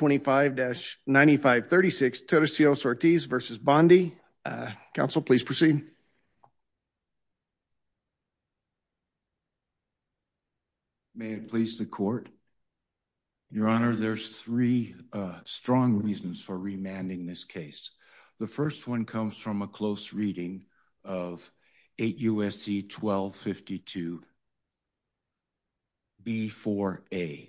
May it please the court. Your Honor, there's three strong reasons for remanding this case. The first one comes from a close reading of 8 U.S.C. 1252 B-4a.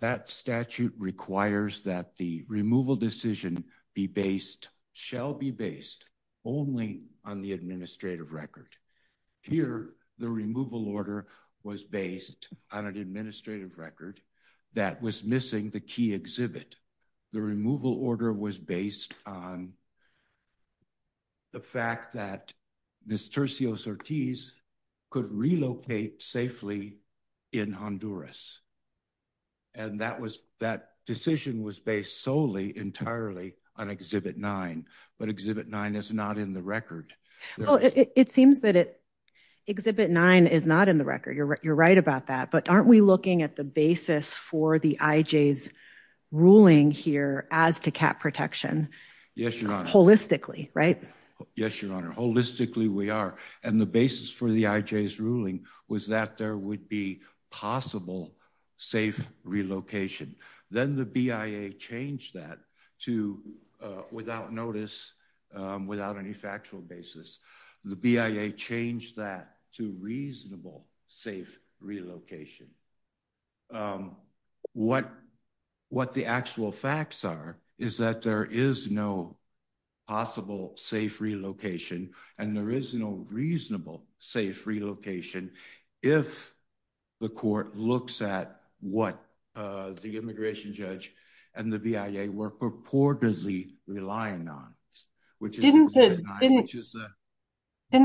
That statute requires that the removal decision be based, shall be based, only on the administrative record. Here, the removal order was based on an administrative record that was missing the key exhibit. The removal order was based on the fact that Ms. Tercios-Ortiz could relocate safely in Honduras. And that was, that decision was based solely, entirely on Exhibit 9, but Exhibit 9 is not in the record. Oh, it seems that Exhibit 9 is not in the record. You're right about that. But aren't we looking at the basis for the IJ's ruling here as to cat protection? Yes, Your Honor. Holistically, right? Yes, Your Honor. Holistically, we are. And the basis for the IJ's ruling was that there would be possible safe relocation. Then the BIA changed that to, without notice, without any factual basis, the BIA changed that to reasonable safe relocation. What the actual facts are is that there is no possible safe relocation, and there is no reasonable safe relocation, if the court looks at what the immigration judge and the BIA were purportedly relying on. Didn't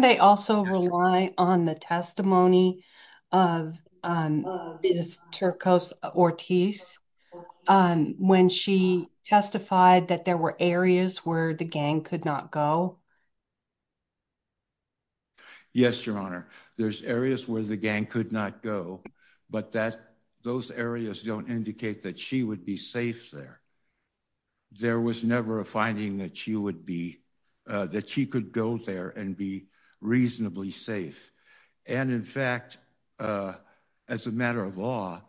they also rely on the testimony of Ms. Tercios-Ortiz when she testified that there were areas where the gang could not go? Yes, Your Honor. There's areas where the gang could not go, but those areas don't indicate that she would be safe there. There was never a finding that she would be, that she could go there and be reasonably safe. And in fact, as a matter of law,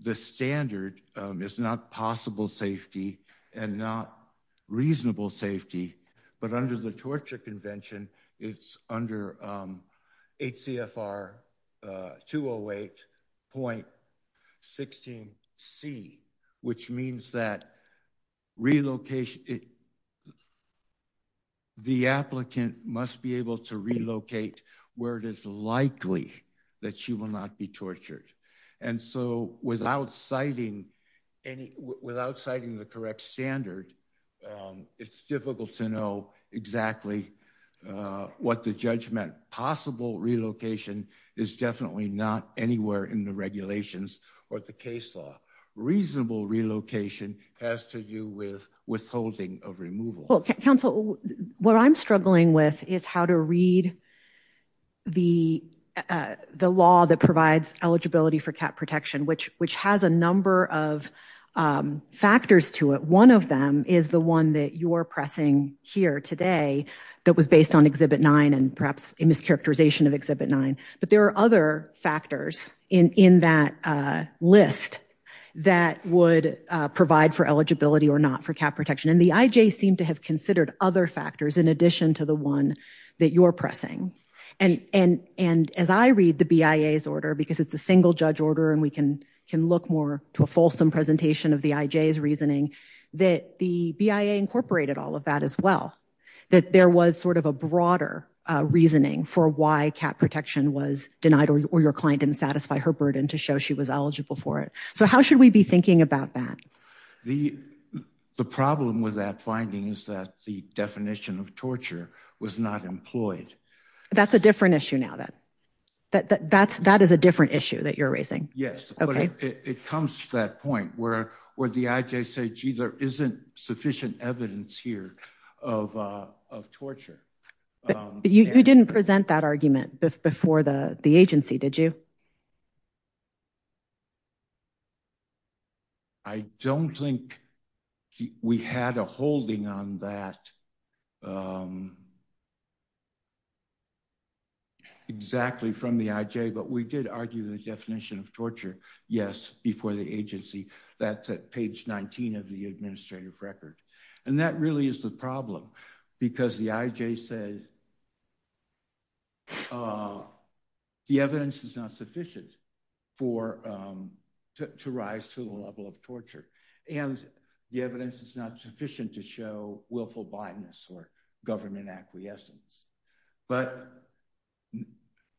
the standard is not possible safety and not reasonable safety, but under the Torture Convention, it's under HCFR 208.16c, which means that relocation, the applicant must be able to relocate where it is likely that she will not be tortured. And so, without citing the correct standard, it's difficult to know exactly what the judge meant. Counsel, what I'm struggling with is how to read the law that provides eligibility for cat protection, which has a number of factors to it. One of them is the one that you're pressing here today that was based on Exhibit 9 and perhaps a mischaracterization of Exhibit 9. But there are other factors in that list that would provide for eligibility or not for cat protection. And the IJ seemed to have considered other factors in addition to the one that you're pressing. And as I read the BIA's order, because it's a single judge order and we can look more to a fulsome presentation of the IJ's reasoning, that the BIA incorporated all of that as well. That there was sort of a broader reasoning for why cat protection was denied or your client didn't satisfy her burden to show she was eligible for it. So how should we be thinking about that? The problem with that finding is that the definition of torture was not employed. That's a different issue now. That is a different issue that you're raising. Yes. It comes to that point where the IJ said, gee, there isn't sufficient evidence here of torture. You didn't present that argument before the agency, did you? I don't think we had a holding on that exactly from the IJ, but we did argue the definition of torture, yes, before the agency. That's at page 19 of the administrative record. And that really is the problem because the IJ said the evidence is not sufficient to rise to the level of torture and the evidence is not sufficient to show willful blindness or government acquiescence. But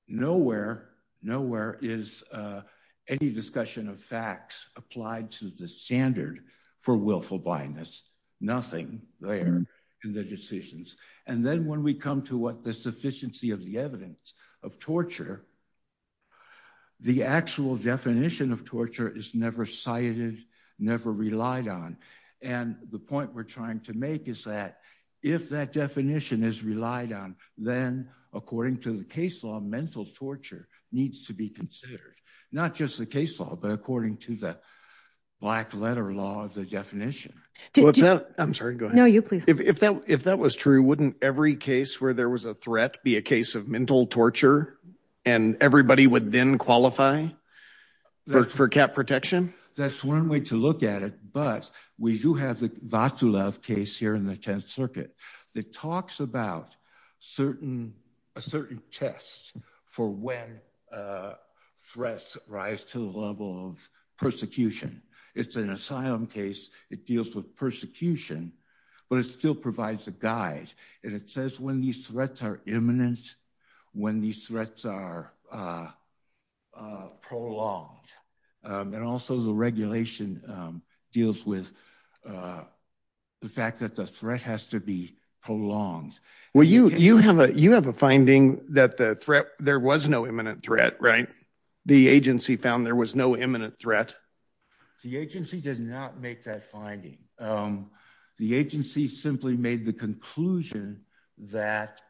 nowhere is any discussion of facts applied to the standard for willful blindness. Nothing there in the decisions. And then when we come to what the sufficiency of the evidence of torture, the actual definition of torture is never cited, never relied on. And the point we're trying to make is that if that definition is relied on, then according to the case law, mental torture needs to be considered. Not just the case law, but according to the black letter law, the definition. I'm sorry. Go ahead. No, you please. If that was true, wouldn't every case where there was a threat be a case of mental torture and everybody would then qualify for CAP protection? That's one way to look at it, but we do have the Vaclav case here in the 10th Circuit that talks about a certain test for when threats rise to the level of persecution. It's an asylum case. It deals with persecution, but it still provides a guide. And it says when these threats are imminent, when these threats are prolonged. And also the regulation deals with the fact that the threat has to be prolonged. Well, you have a finding that there was no imminent threat, right? The agency found there was no imminent threat. The agency did not make that finding. The agency simply made the conclusion that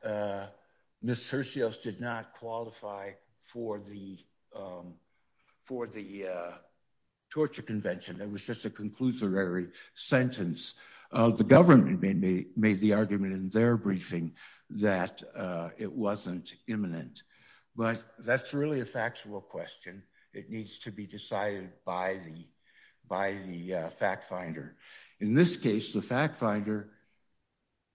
Ms. Hershios did not qualify for the torture convention. It was just a conclusory sentence. The government made the argument in their briefing that it wasn't imminent. But that's really a factual question. It needs to be decided by the fact finder. In this case, the fact finder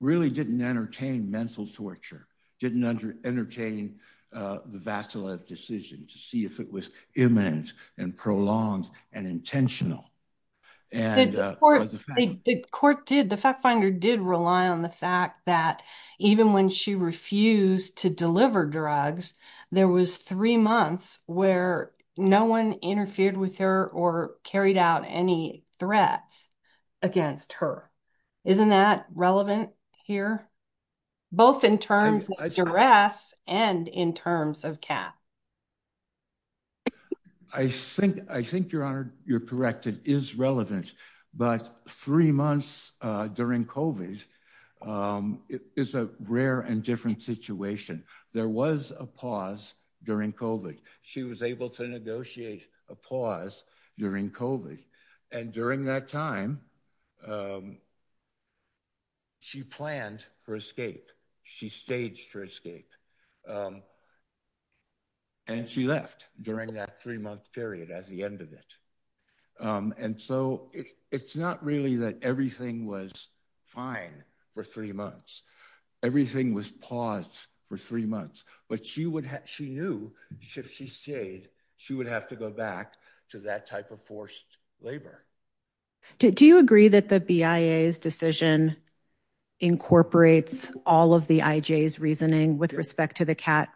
really didn't entertain mental torture, didn't entertain the Vaclav decision to see if it was imminent and prolonged and intentional. The court did. The fact finder did rely on the fact that even when she refused to deliver drugs, there was three months where no one interfered with her or carried out any threats against her. Isn't that relevant here, both in terms of duress and in terms of CAF? I think you're correct. It is relevant. But three months during COVID is a rare and different situation. There was a pause during COVID. She was able to negotiate a pause during COVID. And during that time, she planned her escape. She staged her escape. And she left during that three-month period as the end of it. And so it's not really that everything was fine for three months. Everything was paused for three months. But she knew if she stayed, she would have to go back to that type of forced labor. Do you agree that the BIA's decision incorporates all of the IJ's reasoning with respect to the CAT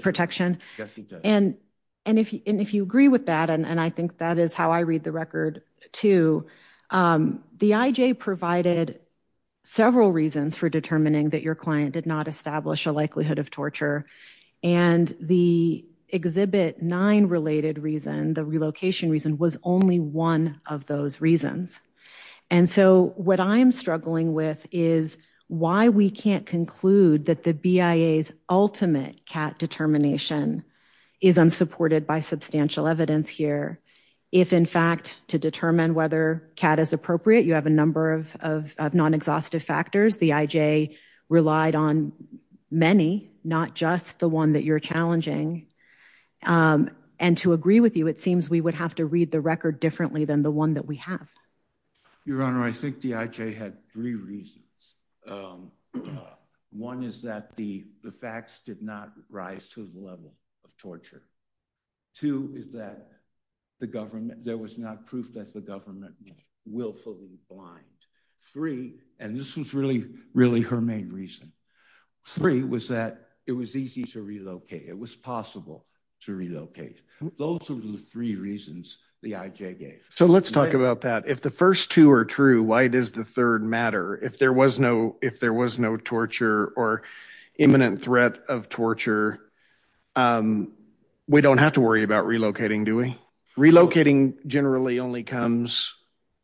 protection? Yes, she does. And if you agree with that, and I think that is how I read the record, too, the IJ provided several reasons for determining that your client did not establish a likelihood of torture. And the Exhibit 9-related reason, the relocation reason, was only one of those reasons. And so what I'm struggling with is why we can't conclude that the BIA's ultimate CAT determination is unsupported by substantial evidence here. If, in fact, to determine whether CAT is appropriate, you have a number of non-exhaustive factors. The IJ relied on many, not just the one that you're challenging. And to agree with you, it seems we would have to read the record differently than the one that we have. Your Honor, I think the IJ had three reasons. One is that the facts did not rise to the level of torture. Two is that there was not proof that the government was willfully blind. Three, and this was really, really her main reason. Three was that it was easy to relocate. It was possible to relocate. Those were the three reasons the IJ gave. So let's talk about that. If the first two are true, why does the third matter? If there was no torture or imminent threat of torture, we don't have to worry about relocating, do we? Relocating generally only becomes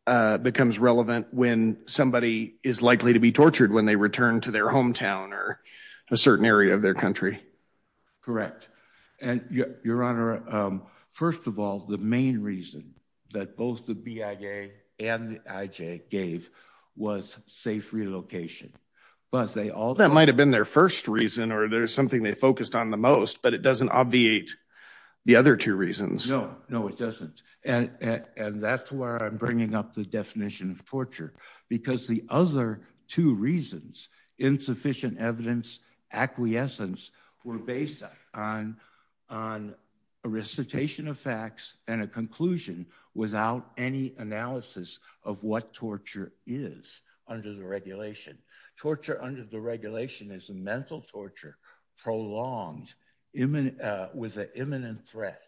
relevant when somebody is likely to be tortured when they return to their hometown or a certain area of their country. Correct. And, Your Honor, first of all, the main reason that both the BIA and the IJ gave was safe relocation. That might have been their first reason or there's something they focused on the most, but it doesn't obviate the other two reasons. No, no, it doesn't. And that's where I'm bringing up the definition of torture. Because the other two reasons, insufficient evidence, acquiescence, were based on a recitation of facts and a conclusion without any analysis of what torture is under the regulation. Torture under the regulation is mental torture prolonged with an imminent threat.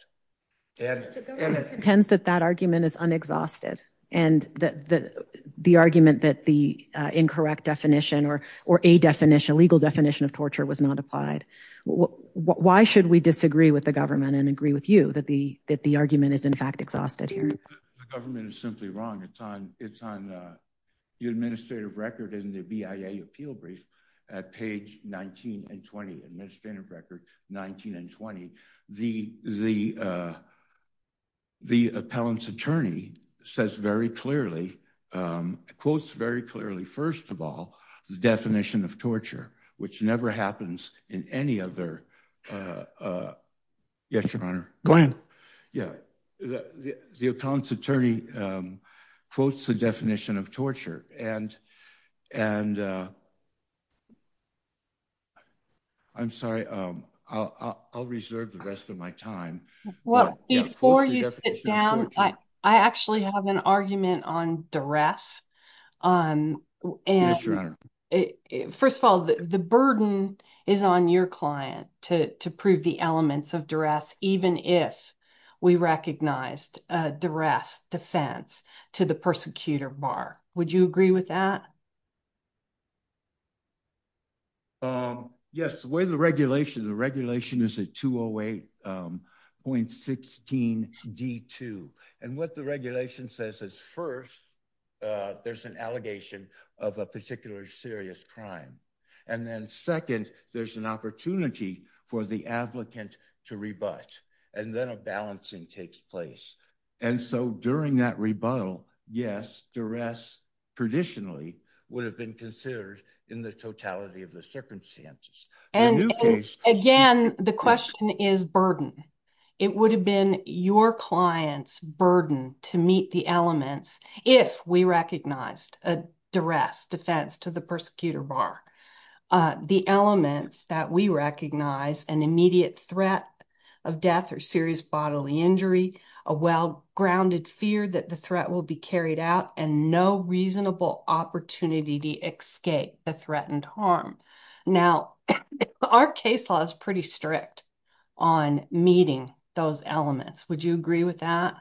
The government contends that that argument is unexhausted and that the argument that the incorrect definition or a legal definition of torture was not applied. Why should we disagree with the government and agree with you that the argument is in fact exhausted here? The government is simply wrong. It's on the administrative record in the BIA appeal brief at page 19 and 20, administrative record 19 and 20. The appellant's attorney says very clearly, quotes very clearly, first of all, the definition of torture, which never happens in any other. Yes, Your Honor. Go ahead. Yeah. The appellant's attorney quotes the definition of torture and I'm sorry, I'll reserve the rest of my time. Before you sit down, I actually have an argument on duress. Yes, Your Honor. First of all, the burden is on your client to prove the elements of duress, even if we recognized duress defense to the persecutor bar. Would you agree with that? Yes, the way the regulation, the regulation is a 208.16 D2. And what the regulation says is first, there's an allegation of a particular serious crime. And then second, there's an opportunity for the applicant to rebut. And then a balancing takes place. And so during that rebuttal, yes, duress traditionally would have been considered in the totality of the circumstances. And again, the question is burden. It would have been your client's burden to meet the elements if we recognized a duress defense to the persecutor bar. The elements that we recognize an immediate threat of death or serious bodily injury, a well grounded fear that the threat will be carried out and no reasonable opportunity to escape the threatened harm. Now, our case law is pretty strict on meeting those elements. Would you agree with that?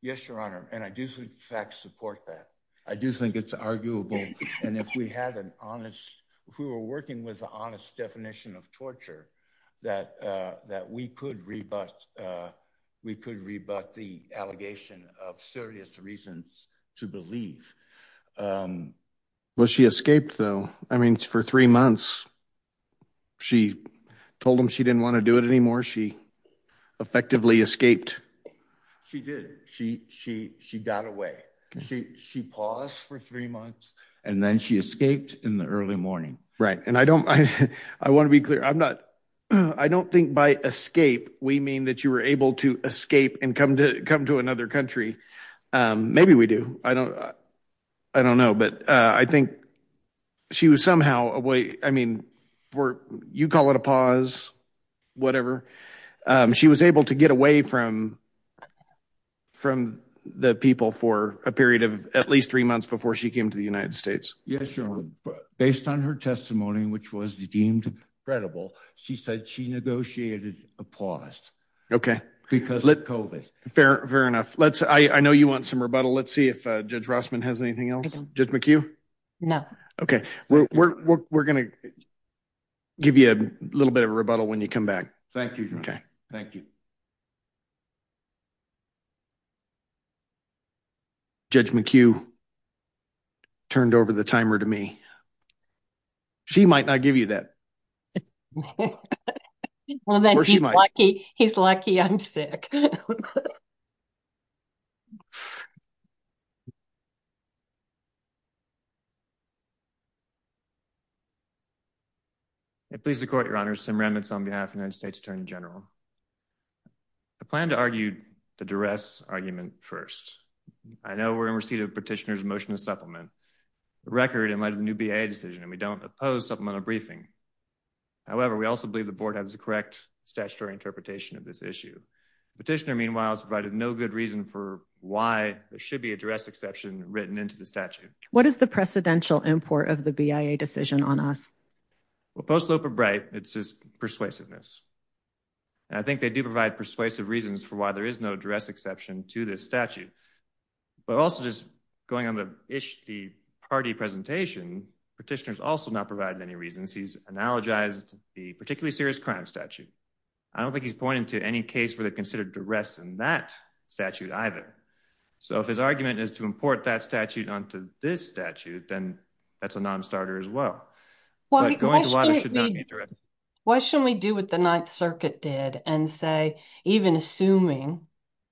Yes, Your Honor. And I do, in fact, support that. I do think it's arguable. And if we had an honest who are working with the honest definition of torture that that we could rebut, we could rebut the allegation of serious reasons to believe. Well, she escaped, though. I mean, for three months, she told him she didn't want to do it anymore. She effectively escaped. She did. She she she got away. She she paused for three months and then she escaped in the early morning. Right. And I don't I want to be clear. I'm not I don't think by escape we mean that you were able to escape and come to come to another country. Maybe we do. I don't I don't know. But I think she was somehow a way. I mean, you call it a pause, whatever. She was able to get away from from the people for a period of at least three months before she came to the United States. Yes, Your Honor. But based on her testimony, which was deemed credible, she said she negotiated a pause. OK, because let's go with fair. Fair enough. Let's I know you want some rebuttal. Let's see if Judge Rossman has anything else. No. OK, we're going to give you a little bit of a rebuttal when you come back. Thank you. OK, thank you. Judge McHugh turned over the timer to me. She might not give you that. Well, then she's lucky. He's lucky. I'm sick. It pleases the court, Your Honor. Some remnants on behalf of United States Attorney General. I plan to argue the duress argument first. I know we're in receipt of petitioners motion to supplement the record in light of the new decision and we don't oppose supplemental briefing. However, we also believe the board has the correct statutory interpretation of this issue. Petitioner, meanwhile, has provided no good reason for why there should be a duress exception written into the statute. What is the precedential import of the BIA decision on us? Well, Post Loper Bright, it's just persuasiveness. And I think they do provide persuasive reasons for why there is no duress exception to this statute. But also just going on the issue, the party presentation petitioners also not provided any reasons. He's analogized the particularly serious crime statute. I don't think he's pointing to any case for the considered duress in that statute either. So if his argument is to import that statute onto this statute, then that's a nonstarter as well. Why shouldn't we do what the Ninth Circuit did and say, even assuming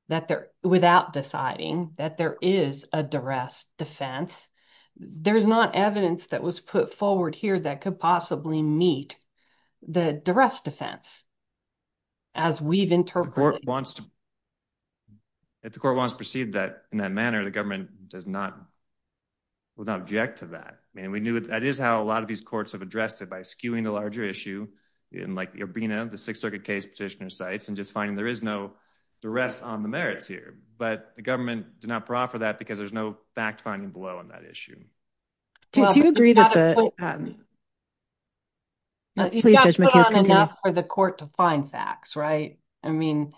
that they're without deciding that there is a duress defense? There's not evidence that was put forward here that could possibly meet the duress defense. As we've interpreted, the court wants to proceed that in that manner, the government does not object to that. And we knew that is how a lot of these courts have addressed it by skewing the larger issue in like being the Sixth Circuit case petitioner sites and just finding there is no duress on the merits here. But the government did not proffer that because there's no fact finding below on that issue. Do you agree that the court to find facts, right? I mean,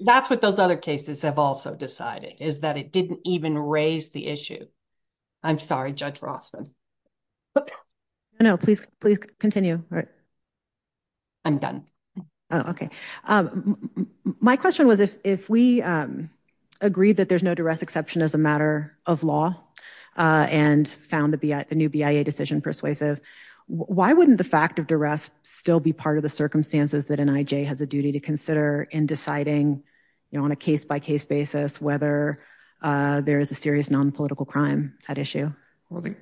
that's what those other cases have also decided is that it didn't even raise the issue. I'm sorry, Judge Rossman. But no, please, please continue. I'm done. OK, my question was, if we agree that there's no duress exception as a matter of law and found the new BIA decision persuasive, why wouldn't the fact of duress still be part of the circumstances that an IJ has a duty to consider in deciding on a case by case basis whether there is a serious nonpolitical crime at issue? Well, the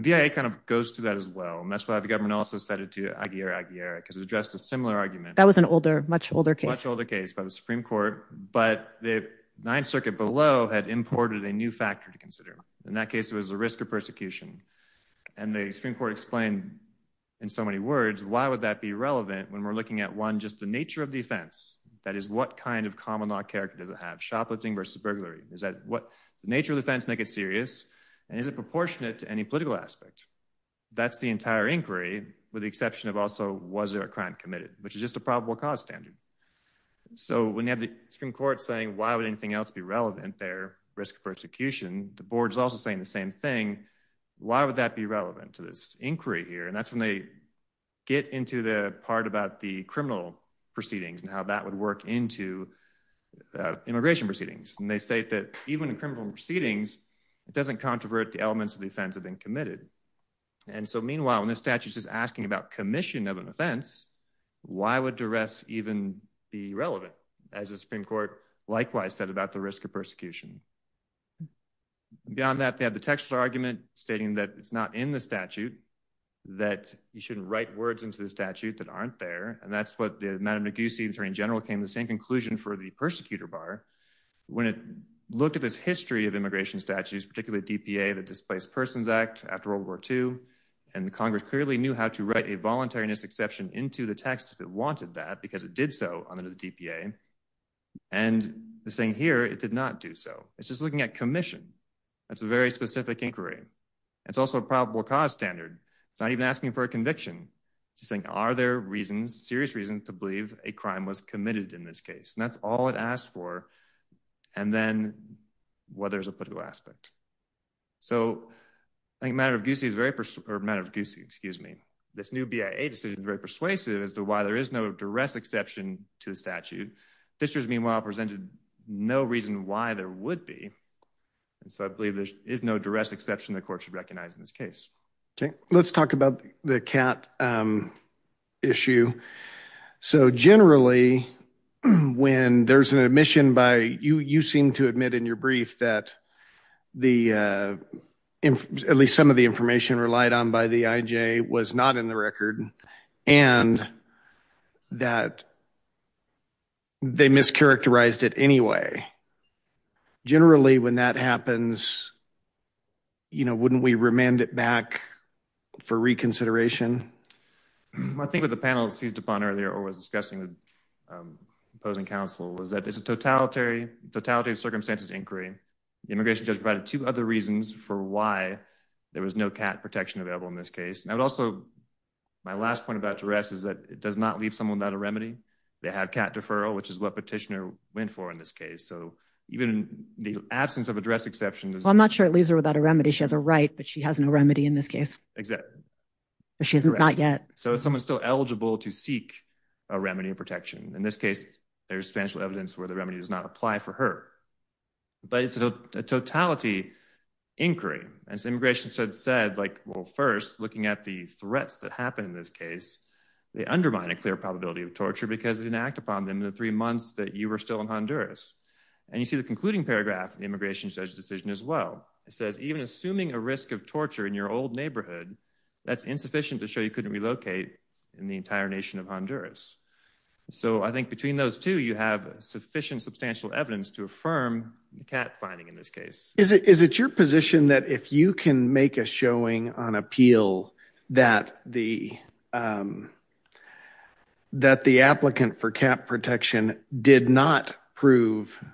BIA kind of goes through that as well. And that's why the government also set it to Aguilera-Aguilera, because it addressed a similar argument. That was an older, much older case. Much older case by the Supreme Court. But the Ninth Circuit below had imported a new factor to consider. In that case, it was the risk of persecution. And the Supreme Court explained in so many words, why would that be relevant when we're looking at one, just the nature of defense? That is what kind of common law character does it have? Shoplifting versus burglary? Is that what the nature of defense make it serious? And is it proportionate to any political aspect? That's the entire inquiry, with the exception of also, was there a crime committed, which is just a probable cause standard. So when you have the Supreme Court saying, why would anything else be relevant there, risk of persecution, the board is also saying the same thing. Why would that be relevant to this inquiry here? And that's when they get into the part about the criminal proceedings and how that would work into immigration proceedings. And they say that even in criminal proceedings, it doesn't controvert the elements of the offense that have been committed. And so meanwhile, when the statute is asking about commission of an offense, why would duress even be relevant? As the Supreme Court likewise said about the risk of persecution. Beyond that, they have the textual argument stating that it's not in the statute, that you shouldn't write words into the statute that aren't there. And that's what the Madame Noguse Attorney General came to the same conclusion for the persecutor bar. When it looked at this history of immigration statutes, particularly DPA, the Displaced Persons Act after World War II, and the Congress clearly knew how to write a voluntariness exception into the text that wanted that because it did so under the DPA. And the saying here, it did not do so. It's just looking at commission. That's a very specific inquiry. It's also a probable cause standard. It's not even asking for a conviction. It's just saying, are there reasons, serious reasons, to believe a crime was committed in this case? And that's all it asked for. And then, well, there's a political aspect. So I think Madame Noguse is very – or Madame Noguse, excuse me. This new BIA decision is very persuasive as to why there is no duress exception to the statute. Fishers, meanwhile, presented no reason why there would be. So I believe there is no duress exception the court should recognize in this case. Okay. Let's talk about the CAT issue. So generally, when there's an admission by – you seem to admit in your brief that at least some of the information relied on by the IJ was not in the record and that they mischaracterized it anyway. Generally, when that happens, you know, wouldn't we remand it back for reconsideration? I think what the panel seized upon earlier or was discussing with opposing counsel was that this is a totality of circumstances inquiry. The immigration judge provided two other reasons for why there was no CAT protection available in this case. And I would also – my last point about duress is that it does not leave someone without a remedy. They have CAT deferral, which is what petitioner went for in this case. So even in the absence of a duress exception – Well, I'm not sure it leaves her without a remedy. She has a right, but she has no remedy in this case. Exactly. She has not yet. So is someone still eligible to seek a remedy and protection? In this case, there's substantial evidence where the remedy does not apply for her. But it's a totality inquiry. And as the immigration judge said, like, well, first, looking at the threats that happen in this case, they undermine a clear probability of torture because it didn't act upon them in the three months that you were still in Honduras. And you see the concluding paragraph in the immigration judge's decision as well. It says, even assuming a risk of torture in your old neighborhood, that's insufficient to show you couldn't relocate in the entire nation of Honduras. So I think between those two, you have sufficient substantial evidence to affirm the CAT finding in this case. Is it your position that if you can make a showing on appeal that the – that the applicant for CAT protection did not prove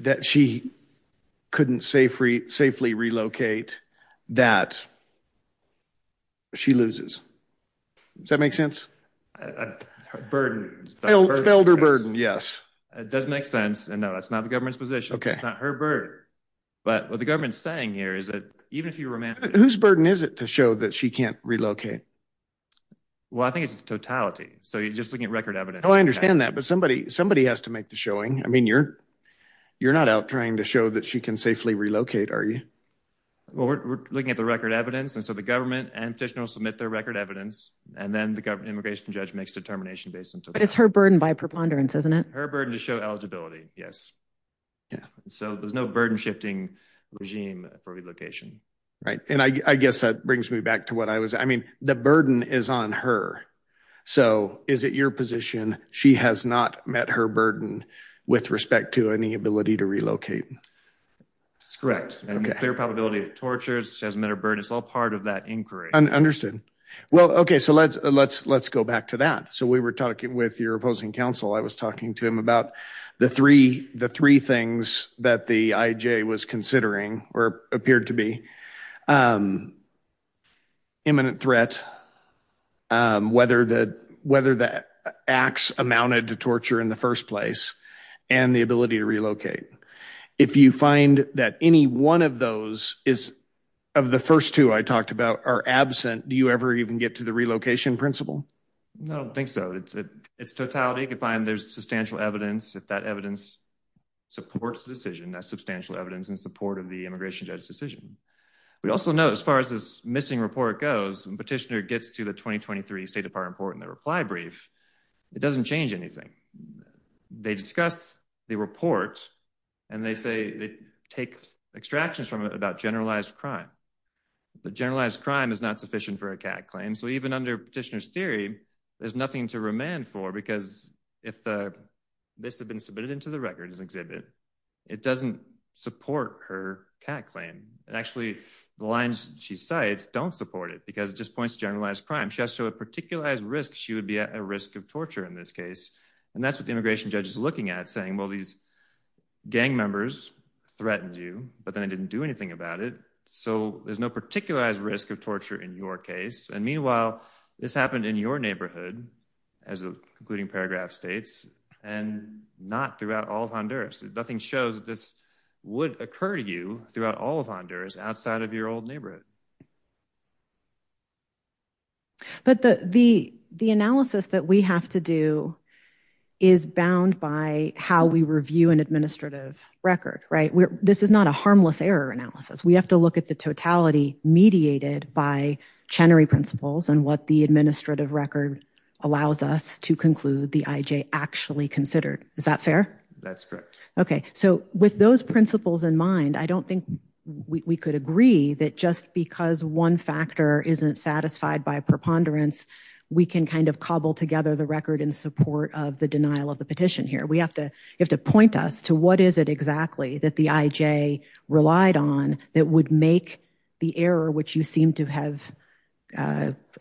that she couldn't safely relocate, that she loses? Does that make sense? Her burden. Failed her burden, yes. It doesn't make sense. No, that's not the government's position. It's not her burden. But what the government's saying here is that even if you – Whose burden is it to show that she can't relocate? Well, I think it's totality. So you're just looking at record evidence. Oh, I understand that. But somebody has to make the showing. I mean, you're not out trying to show that she can safely relocate, are you? Well, we're looking at the record evidence. And so the government and petitioner will submit their record evidence. And then the immigration judge makes a determination based on – But it's her burden by preponderance, isn't it? Her burden to show eligibility, yes. So there's no burden-shifting regime for relocation. Right. And I guess that brings me back to what I was – I mean, the burden is on her. So is it your position she has not met her burden with respect to any ability to relocate? That's correct. And the clear probability of torture, she hasn't met her burden, it's all part of that inquiry. Understood. Well, okay, so let's go back to that. So we were talking with your opposing counsel. I was talking to him about the three things that the IJ was considering or appeared to be – imminent threat, whether the acts amounted to torture in the first place, and the ability to relocate. If you find that any one of those is – of the first two I talked about are absent, do you ever even get to the relocation principle? No, I don't think so. It's totality. You can find there's substantial evidence. If that evidence supports the decision, that's substantial evidence in support of the immigration judge's decision. We also know, as far as this missing report goes, when Petitioner gets to the 2023 State Department report and the reply brief, it doesn't change anything. They discuss the report, and they say they take extractions from it about generalized crime. But generalized crime is not sufficient for a CAD claim. So even under Petitioner's theory, there's nothing to remand for because if this had been submitted into the record as an exhibit, it doesn't support her CAD claim. Actually, the lines she cites don't support it because it just points to generalized crime. She has to show a particularized risk. She would be at a risk of torture in this case. And that's what the immigration judge is looking at, saying, well, these gang members threatened you, but then they didn't do anything about it, so there's no particularized risk of torture in your case. And meanwhile, this happened in your neighborhood, as the concluding paragraph states, and not throughout all of Honduras. Nothing shows that this would occur to you throughout all of Honduras outside of your old neighborhood. But the analysis that we have to do is bound by how we review an administrative record, right? This is not a harmless error analysis. We have to look at the totality mediated by Chenery principles and what the administrative record allows us to conclude the IJ actually considered. Is that fair? That's correct. Okay. So with those principles in mind, I don't think we could agree that just because one factor isn't satisfied by preponderance, we can kind of cobble together the record in support of the denial of the petition here. We have to point us to what is it exactly that the IJ relied on that would make the error, which you seem to have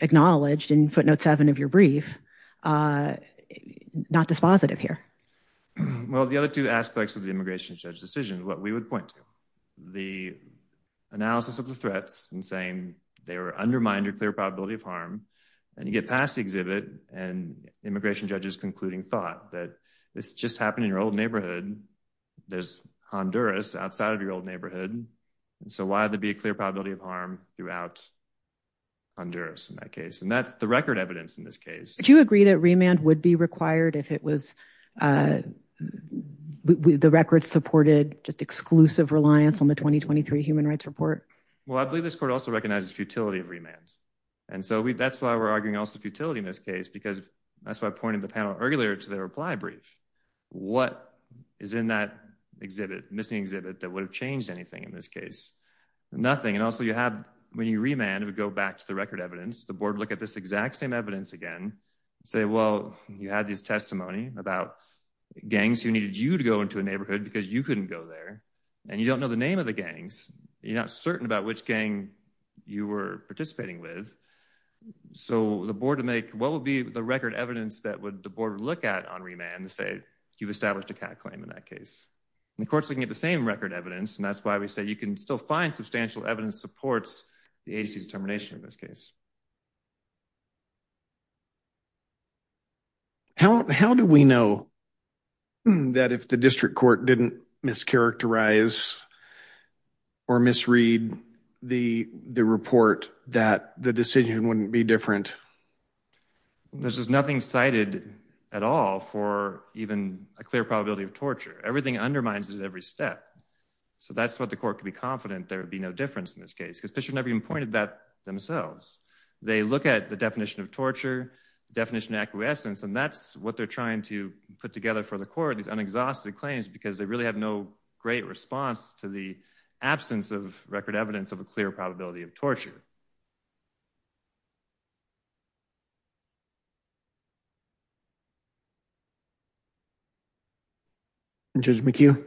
acknowledged in footnote seven of your brief, not dispositive here. Well, the other two aspects of the immigration judge decision, what we would point to, the analysis of the threats and saying they were undermining your clear probability of harm, and you get past the exhibit and immigration judges concluding thought that this just happened in your old neighborhood. There's Honduras outside of your old neighborhood. And so why would there be a clear probability of harm throughout Honduras in that case? And that's the record evidence in this case. Do you agree that remand would be required if it was the record supported just exclusive reliance on the 2023 Human Rights Report? Well, I believe this court also recognizes futility of remand. And so that's why we're arguing also futility in this case, because that's why I pointed the panel earlier to their reply brief. What is in that exhibit, missing exhibit that would have changed anything in this case? Nothing. And also you have when you remand would go back to the record evidence. The board look at this exact same evidence again. Say, well, you had this testimony about gangs who needed you to go into a neighborhood because you couldn't go there. And you don't know the name of the gangs. You're not certain about which gang you were participating with. So the board to make what would be the record evidence that would the board would look at on remand to say you've established a cat claim in that case. And of course, looking at the same record evidence. And that's why we say you can still find substantial evidence supports the determination of this case. How do we know that if the district court didn't mischaracterize or misread the report that the decision wouldn't be different? There's just nothing cited at all for even a clear probability of torture. Everything undermines it at every step. So that's what the court could be confident there would be no difference in this case. Because Fisher never even pointed that themselves. They look at the definition of torture definition acquiescence. And that's what they're trying to put together for the court is unexhausted claims because they really have no great response to the absence of record evidence of a clear probability of torture. Thank you.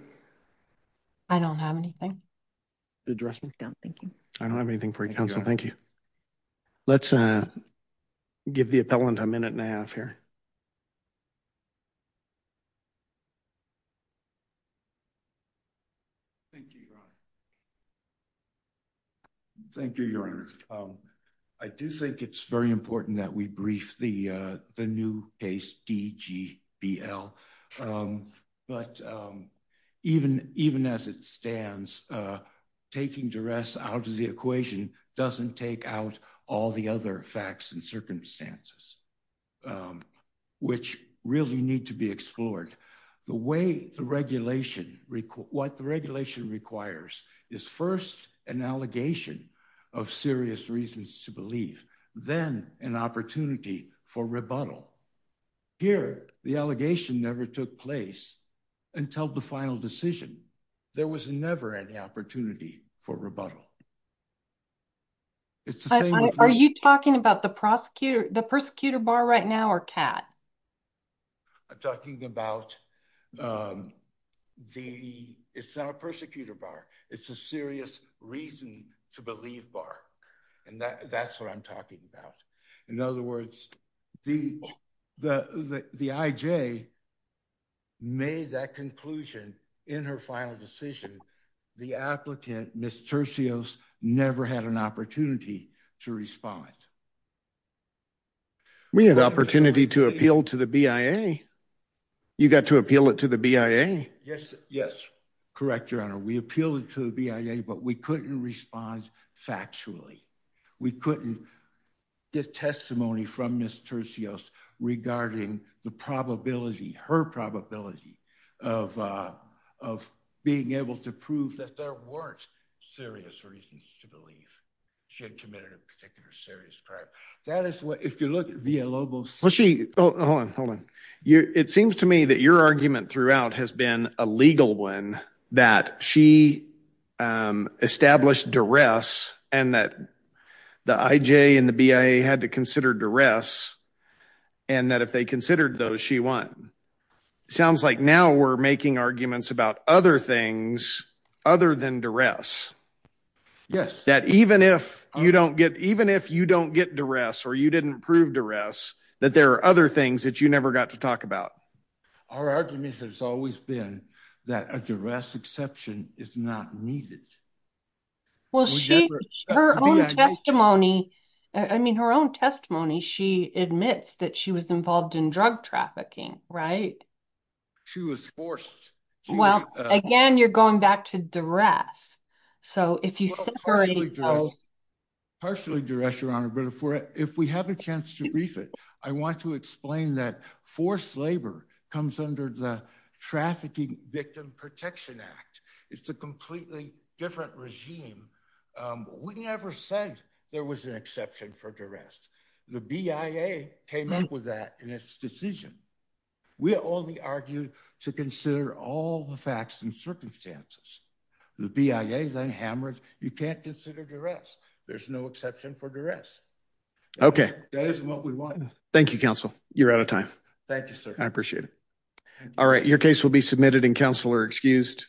I don't have anything. Thank you. I don't have anything for you. Thank you. Let's give the appellant a minute and a half here. Thank you. Thank you, Your Honor. I do think it's very important that we brief the new case DGBL. But even as it stands, taking duress out of the equation doesn't take out all the other facts and circumstances, which really need to be explored. The way the regulation, what the regulation requires is first an allegation of serious reasons to believe, then an opportunity for rebuttal. Here, the allegation never took place until the final decision. There was never any opportunity for rebuttal. Are you talking about the prosecutor, the persecutor bar right now or Kat? I'm talking about the, it's not a persecutor bar. It's a serious reason to believe bar. And that's what I'm talking about. In other words, the, the, the, the IJ made that conclusion in her final decision. The applicant, Mr. Seals never had an opportunity to respond. We had opportunity to appeal to the BIA. You got to appeal it to the BIA. Yes, yes. Correct, Your Honor, we appealed it to the BIA, but we couldn't respond factually. We couldn't get testimony from Mr. Seals regarding the probability, her probability of, of being able to prove that there weren't serious reasons to believe she had committed a particular serious crime. That is what, if you look at via Lobos, well, she, hold on, hold on. You, it seems to me that your argument throughout has been a legal one that she established duress and that the IJ and the BIA had to consider duress. And that if they considered those, she won. Sounds like now we're making arguments about other things other than duress. Yes. That even if you don't get, even if you don't get duress or you didn't prove duress, that there are other things that you never got to talk about. Our argument has always been that a duress exception is not needed. Well, she, her own testimony, I mean her own testimony, she admits that she was involved in drug trafficking, right? She was forced. Well, again, you're going back to duress. So if you separate those. Partially duress, Your Honor, but if we have a chance to brief it, I want to explain that forced labor comes under the Trafficking Victim Protection Act. It's a completely different regime. We never said there was an exception for duress. The BIA came up with that in its decision. We only argued to consider all the facts and circumstances. The BIA is unhammered. You can't consider duress. There's no exception for duress. Okay. That isn't what we want. Thank you, counsel. You're out of time. Thank you, sir. I appreciate it. All right. Your case will be submitted and counsel are excused.